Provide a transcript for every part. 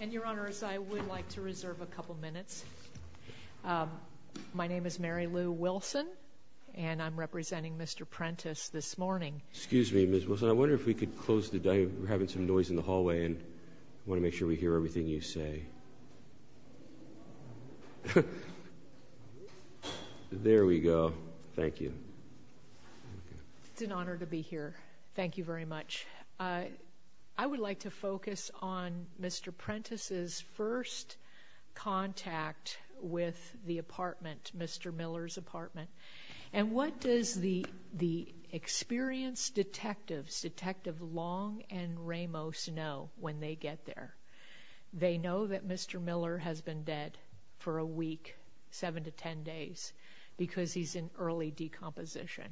and your honors I would like to reserve a couple minutes my name is Mary Lou Wilson and I'm representing mr. Prentice this morning excuse me mrs. Wilson I wonder if we could close the day we're having some noise in the hallway and I want to make sure we hear everything you say there we go thank you it's an honor to be here thank you very much I would like to focus on mr. Prentice's first contact with the apartment mr. Miller's apartment and what does the the experienced detectives detective long and Ramos know when they get there they know that mr. Miller has been dead for a week seven to ten days because he's in early decomposition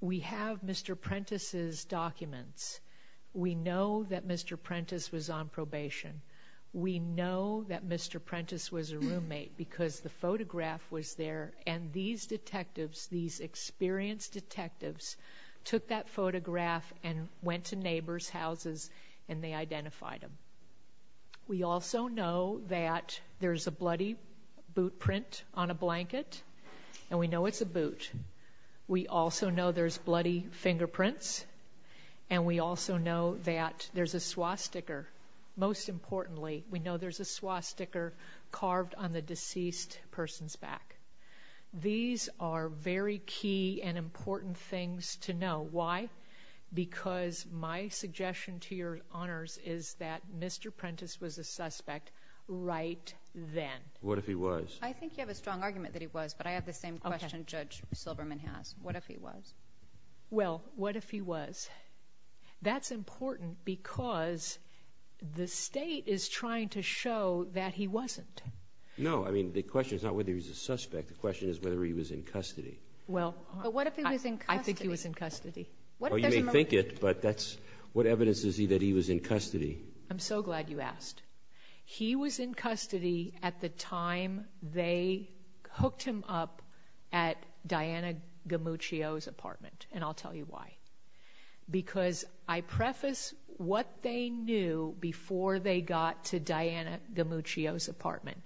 we have mr. Prentice's documents we know that mr. Prentice was on probation we know that mr. Prentice was a roommate because the photograph was there and these detectives these experienced detectives took that photograph and went to neighbors houses and they identified them we also know that there's a bloody boot print on a blanket and we know it's a boot we also know there's bloody fingerprints and we also know that there's a swastika most importantly we know there's a swastika carved on the deceased person's back these are very key and important things to know why because my suggestion to your honors is that mr. Prentice was a suspect right then what if he was I think you have a strong argument that he was but I have the same question judge Silverman has what if he was well what if he was that's important because the state is trying to show that he wasn't no I mean the question is not whether he's a suspect the question is whether he was in custody well but what if he was in I think he was in custody well you may think it but that's what evidence is he that he was in custody I'm so glad you asked he was in custody at the time they hooked him up at Diana Gamuccio's apartment and I'll tell you why because I preface what they knew before they got to Diana Gamuccio's apartment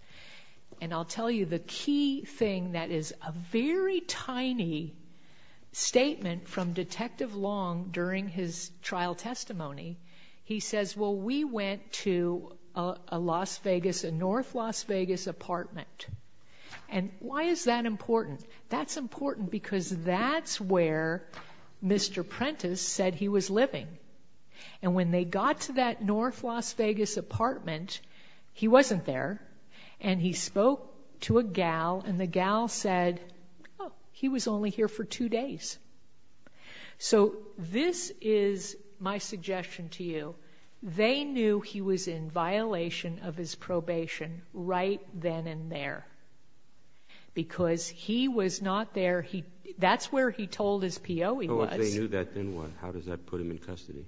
and I'll tell you the key thing that is a very tiny statement from detective long during his trial testimony he says well we went to a Las Vegas and North Las Vegas apartment and why is that important that's important because that's where mr. Prentice said he was living and when they got to that North Las Vegas apartment he wasn't there and he spoke to a gal and the gal said he was only here for two days so this is my suggestion to you they knew he was in violation of his probation right then and there because he was not there he that's where he told his PO he was they knew that then what how does that put him in custody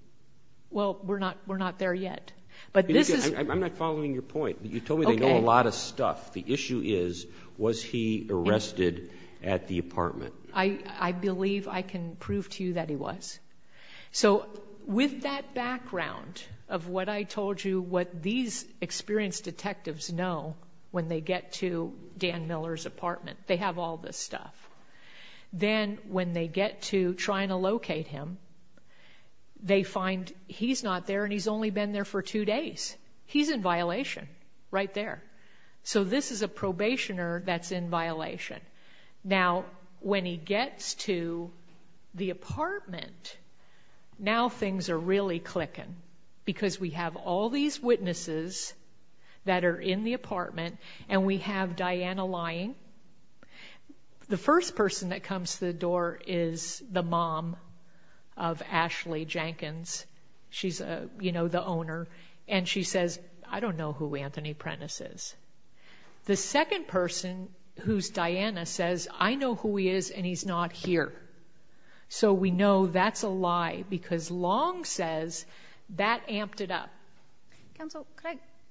well we're not we're not there yet but this is I'm not following your point you told me they know a lot of stuff the issue is was he arrested at the apartment I I believe I can prove to you that he was so with that background of what I told you what these experienced detectives know when they get to Dan Miller's apartment they have all this stuff then when they get to trying to locate him they find he's not there he's only been there for two days he's in violation right there so when he gets to the apartment now things are really clicking because we have all these witnesses that are in the apartment and we have Diana lying the first person that comes to the door is the mom of Ashley Jenkins she's a you know the owner and she says I don't know who Anthony Prentice is the second person who's Diana says I know who he is and he's not here so we know that's a lie because long says that amped it up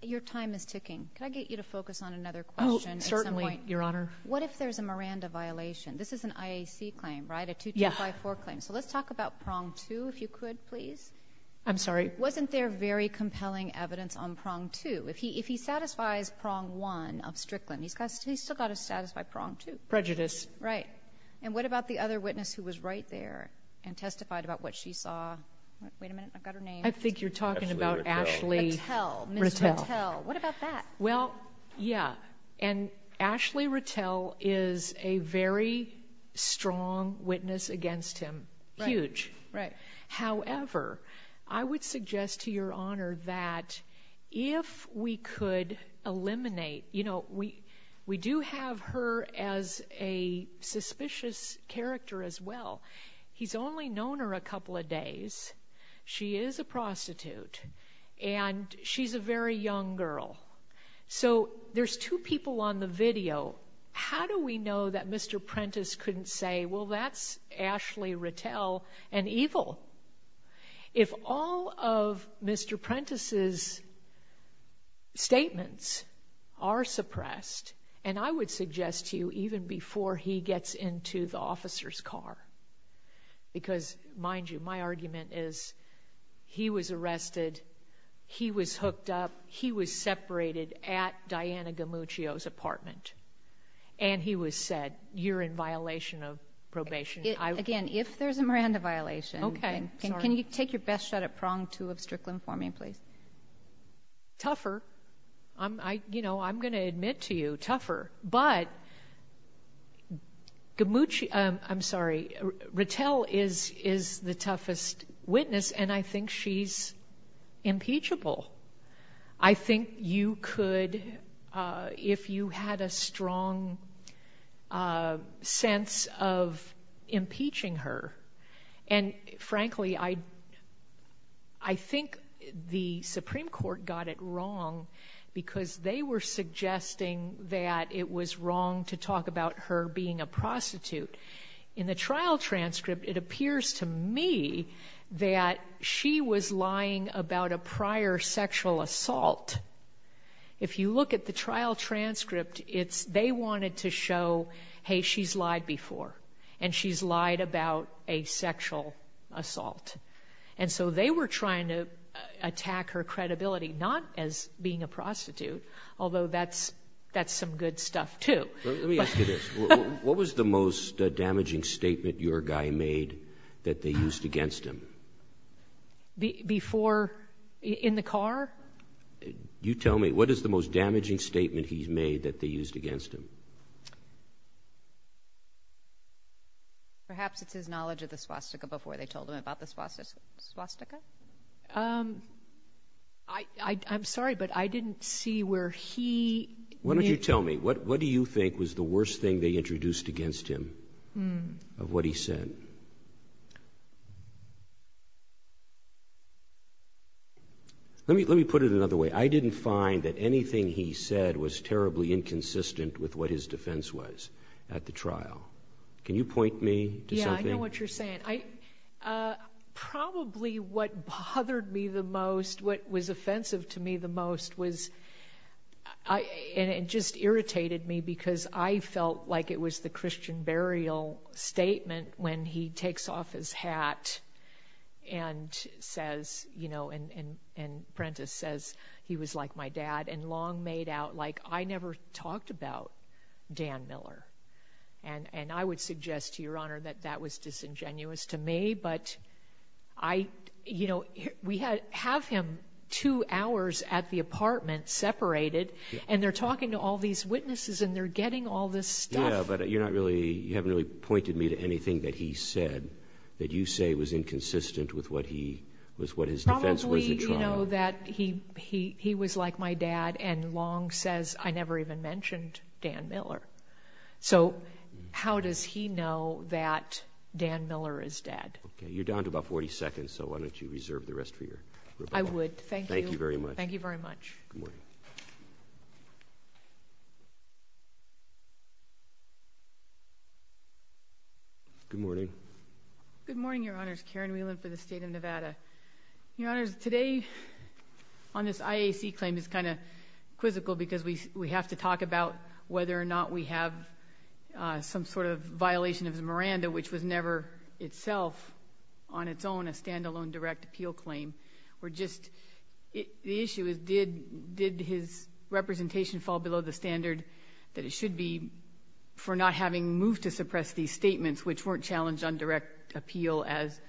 your time is ticking can I get you to focus on another question certainly your honor what if there's a Miranda violation this is an IAC claim right a 2-2-5-4 claim so let's talk about pronged to if you could please I'm sorry wasn't there very compelling evidence on prejudice right and what about the other witness who was right there and testified about what she saw I think you're talking about Ashley well yeah and Ashley Rattel is a very strong witness against him huge right however I suggest to your honor that if we could eliminate you know we we do have her as a suspicious character as well he's only known her a couple of days she is a prostitute and she's a very young girl so there's two people on the video how do we know that mr. Prentice couldn't say well that's Ashley Rattel and evil if all of mr. Prentice's statements are suppressed and I would suggest to you even before he gets into the officer's car because mind you my argument is he was arrested he was hooked up he was separated at Diana Gamuccio's apartment and he was said you're in violation of probation again if there's a Miranda violation okay can you take your best shot at pronged to of strickland for me please tougher I'm I you know I'm gonna admit to you tougher but Gamuccio I'm sorry Rattel is is the toughest witness and I think she's impeachable I think you could if you had a strong sense of impeaching her and frankly I I think the Supreme Court got it wrong because they were suggesting that it was wrong to talk about her being a prostitute in the trial transcript it appears to me that she was lying about a prior sexual assault if you look at the trial transcript it's they wanted to show hey she's lied before and she's lied about a sexual assault and so they were trying to attack her credibility not as being a prostitute although that's that's some good stuff too what was the most before in the car you tell me what is the most damaging statement he's made that they used against him perhaps it's his knowledge of the swastika before they told him about the swastika I'm sorry but I didn't see where he what did you tell me what what do you think was the worst thing they introduced against him of what he said let me let me put it another way I didn't find that anything he said was terribly inconsistent with what his defense was at the trial can you point me to what you're saying I probably what bothered me the most what was offensive to me the most was I and it just irritated me because I felt like it was the Christian burial statement when he takes off his hat and says you know and and Prentiss says he was like my dad and long made out like I never talked about Dan Miller and and I would suggest to your honor that that was disingenuous to me but I you know we had have him two hours at the apartment separated and they're talking to all these witnesses and they're getting all this yeah but you're not really you haven't really pointed me to anything that he said that you say was inconsistent with what he was what his defense was you know that he he he was like my dad and long says I never even mentioned Dan Miller so how does he know that Dan Miller is dead okay you're down to about 40 seconds so why don't you reserve the rest for your I would thank you very much thank you very much you good morning good morning your honors Karen Whelan for the state of Nevada your honors today on this IAC claim is kind of quizzical because we we have to talk about whether or not we have some sort of violation of the Miranda which was never itself on its own a standalone direct appeal claim we're just the issue is did did his representation fall below the standard that it should be for not having moved to suppress these statements which weren't challenged on direct appeal as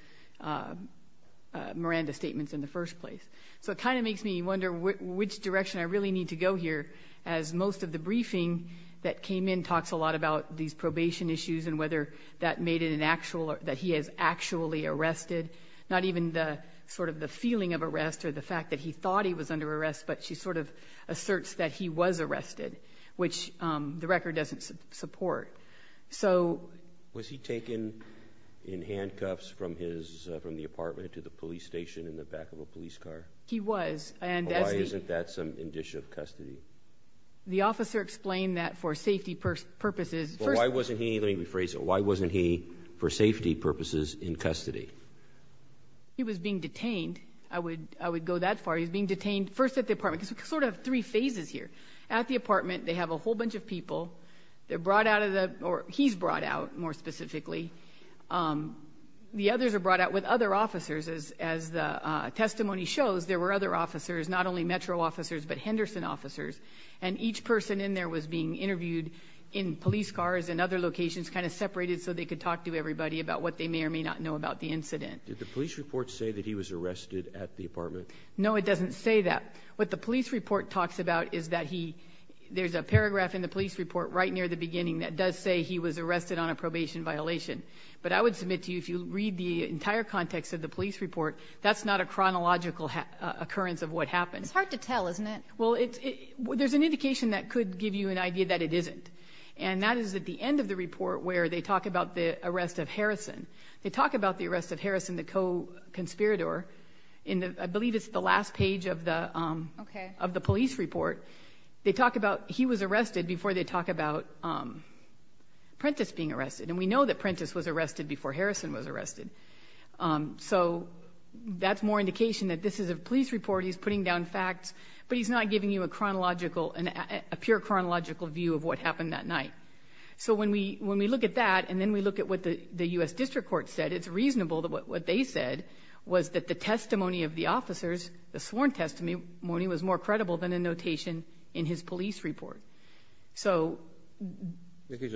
Miranda statements in the first place so it kind of makes me wonder which direction I really need to go here as most of the briefing that came in talks a lot about these probation issues and whether that made it an actual or that he has actually arrested not even the sort of the feeling of arrest or the fact that he thought he was under arrest but she sort of asserts that he was arrested which the record doesn't support so was he taken in handcuffs from his from the apartment to the police station in the back of a police car he was and isn't that some addition of custody the officer explained that for safety purposes why wasn't he let me rephrase why wasn't he for safety purposes in custody he was being detained I would I would go that far he's being detained first at the apartment sort of three phases here at the apartment they have a whole bunch of people they're brought out of the or he's brought out more specifically the others are brought out with other officers as as the testimony shows there were other officers not only Metro officers but Henderson officers and each person in there was being so they could talk to everybody about what they may or may not know about the incident did the police report say that he was arrested at the apartment no it doesn't say that what the police report talks about is that he there's a paragraph in the police report right near the beginning that does say he was arrested on a probation violation but I would submit to you if you read the entire context of the police report that's not a chronological occurrence of what happened it's hard to tell isn't it well it's there's an indication that could give you an idea that it isn't and that is at the end of the report where they talk about the arrest of Harrison they talk about the arrest of Harrison the co-conspirator in the I believe it's the last page of the okay of the police report they talk about he was arrested before they talk about Prentice being arrested and we know that Prentice was arrested before Harrison was arrested so that's more indication that this is a police report he's putting down facts but he's not giving you a chronological and a pure chronological view of what happened that night so when we when we look at that and then we look at what the the US District Court said it's reasonable that what they said was that the testimony of the officers the sworn testimony morning was more credible than a notation in his police report so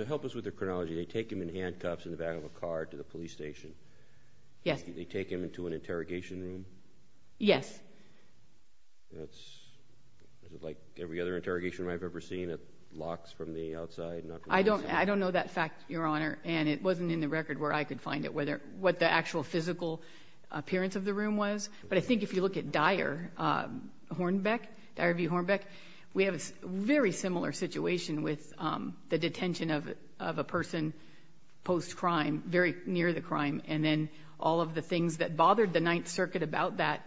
help us with the chronology they take him in handcuffs in the back of a car to the police station yes they take him into an interrogation room yes that's like every other interrogation I've ever seen it I don't I don't know that fact your honor and it wasn't in the record where I could find it whether what the actual physical appearance of the room was but I think if you look at Dyer Hornbeck the RV Hornbeck we have a very similar situation with the detention of a person post-crime very near the crime and then all of the things that bothered the Ninth Circuit about that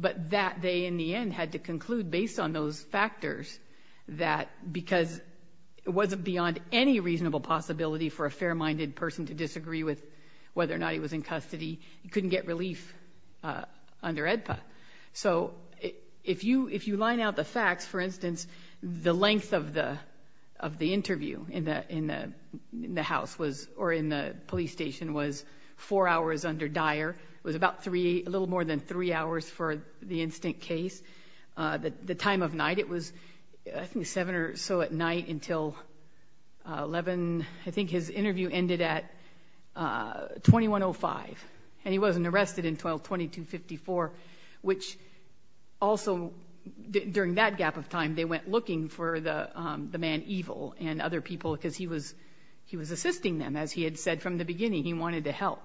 but that they in the end had to conclude based on those factors that because it wasn't beyond any reasonable possibility for a fair-minded person to disagree with whether or not he was in custody you couldn't get relief under EDPA so if you if you line out the facts for instance the length of the of the interview in the in the house was or in the police station was four hours under Dyer it was about three a little more than three hours for the instant case that the time of night it was I think seven or so at night until 11 I think his interview ended at 2105 and he wasn't arrested in 12 2254 which also during that gap of time they went looking for the the man evil and other people because he was he was assisting them as he had said from the beginning he wanted to help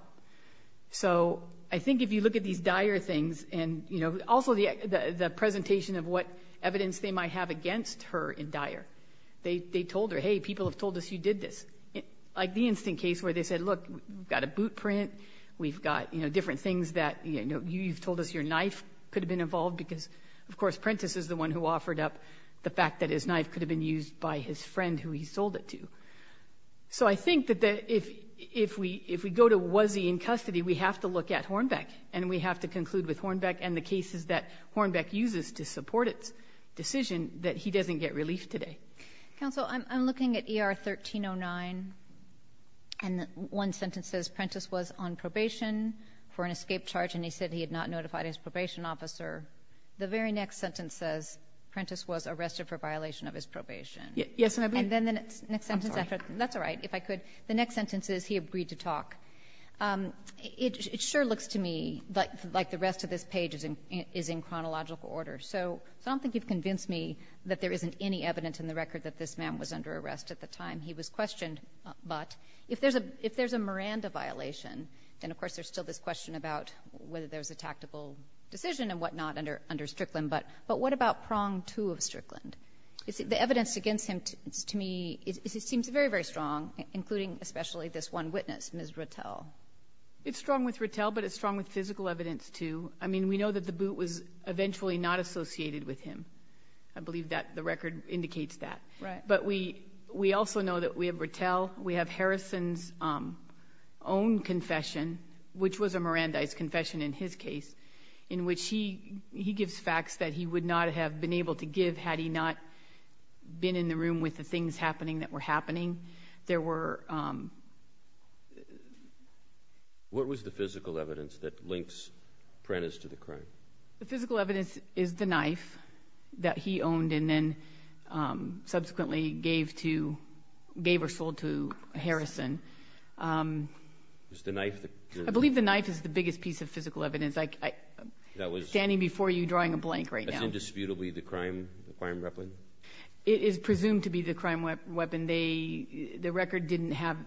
so I think if you look at these Dyer things and you know also the the presentation of what evidence they might have against her in Dyer they told her hey people have told us you did this like the instant case where they said look we've got a boot print we've got you know different things that you know you've told us your knife could have been involved because of course Prentice is the one who offered up the fact that his knife could have been used by his friend who he sold it to so I think that that if if we if we go to was he in custody we have to look at Hornbeck and we have to conclude with Hornbeck and the cases that Hornbeck uses to support its decision that he doesn't get relief today council I'm looking at er 1309 and one sentence says Prentice was on probation for an escape charge and he said he had not notified his probation officer the very next sentence says Prentice was arrested for violation of his probation yes and then then it's next sentence after that's all right if I could the next sentence is he agreed to talk it sure looks to me like like the rest of this page is in is in chronological order so I don't think you've convinced me that there isn't any evidence in the record that this man was under arrest at the time he was questioned but if there's a if there's a Miranda violation then of course there's still this question about whether there's a tactical decision and whatnot under under Strickland but but what about pronged to of Strickland you see the evidence against him to me is it seems very very strong including especially this one witness Ms. Rattel it's strong with Rattel but it's strong with physical evidence too I mean we know that the boot was eventually not associated with him I believe that the record indicates that right but we we also know that we have Rattel we have Harrison's own confession which was a Miranda his confession in his case in which he he gives facts that he would not have been able to give had he not been in the room with the things happening that were happening there were what was the physical evidence that links Prentice to the crime the physical evidence is the knife that he owned and then subsequently gave to gave or sold to Harrison is the knife I believe the knife is the biggest piece of physical evidence like that was standing before you drawing a blank right now it is presumed to be the crime weapon they the record didn't have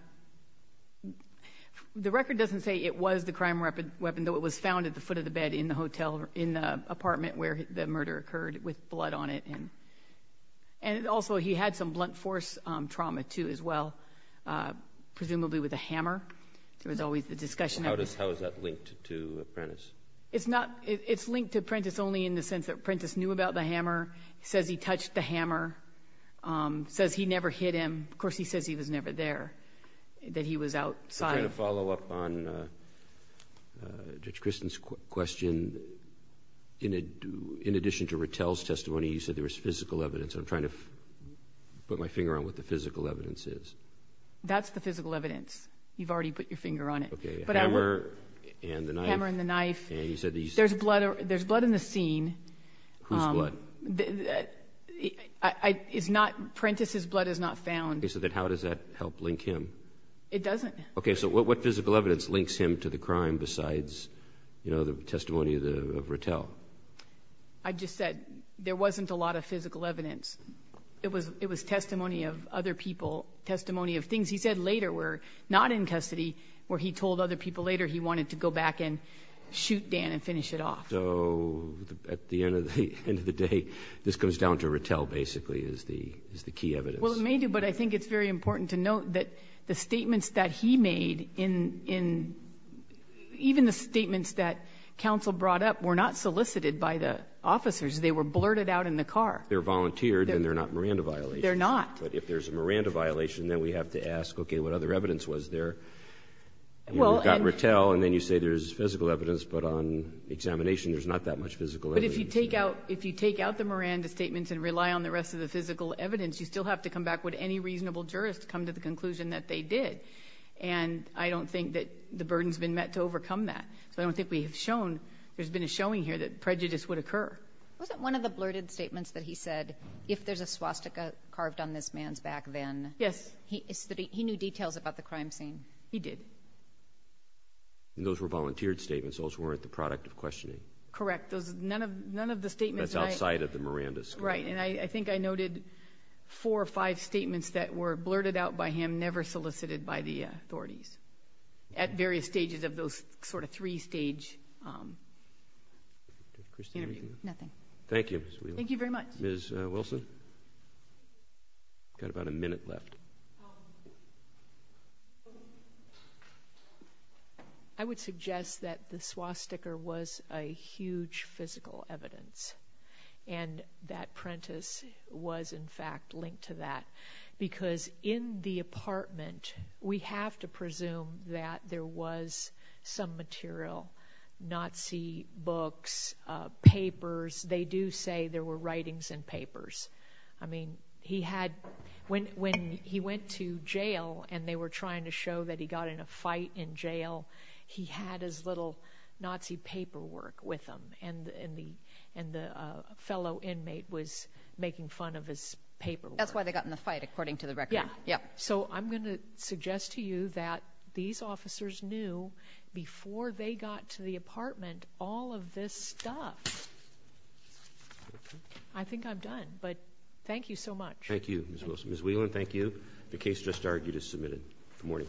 the record doesn't say it was the crime weapon weapon though it was found at the foot of the bed in the hotel in the apartment where the murder occurred with blood on it and and also he had some blunt force trauma to as well presumably with a hammer there was always the discussion how does how is that linked to apprentice it's not it's linked to Prentice only in the sense that Prentice knew about the hammer says he touched the hammer says he never hit him of course he says he was never there that he was outside a follow-up on judge Kristen's question in a do in addition to Rattel's testimony you said there was physical evidence I'm trying to put my finger on what the physical evidence is that's the physical there's blood there's blood in the scene I is not Prentice's blood is not found so that how does that help link him it doesn't okay so what physical evidence links him to the crime besides you know the testimony of the Rattel I just said there wasn't a lot of physical evidence it was it was testimony of other people testimony of things he said later were not in custody where he told other people later he wanted to go back and shoot Dan and finish it off so at the end of the end of the day this goes down to Rattel basically is the is the key evidence well it may do but I think it's very important to note that the statements that he made in in even the statements that counsel brought up were not solicited by the officers they were blurted out in the car they're volunteered and they're not Miranda violation they're not but if there's a Miranda violation then we have to ask okay what other evidence was there well got Rattel and then you say there's physical evidence but on examination there's not that much physical but if you take out if you take out the Miranda statements and rely on the rest of the physical evidence you still have to come back with any reasonable jurist to come to the conclusion that they did and I don't think that the burden has been met to overcome that so I don't think we have shown there's been a showing here that prejudice would occur wasn't one of the blurted statements that he said if there's a swastika carved on this man's back then yes he knew details about the statements also weren't the product of questioning correct those none of none of the statements outside of the Miranda's right and I think I noted four or five statements that were blurted out by him never solicited by the authorities at various stages of those sort of three-stage nothing thank you thank you very much miss Wilson got about a minute left I would suggest that the swastika was a huge physical evidence and that Prentiss was in fact linked to that because in the apartment we have to presume that there was some material Nazi books papers they do say there were writings and papers I mean he had when when he went to jail and they were trying to show that he got in a fight in jail he had his little Nazi paperwork with him and in the and the fellow inmate was making fun of his paper that's why they got in the fight according to the record yeah yeah so I'm gonna suggest to you that these officers knew before they got to the apartment all of this stuff I think I'm done but thank you so much thank you as well as we learn thank you the case just argued is submitted good morning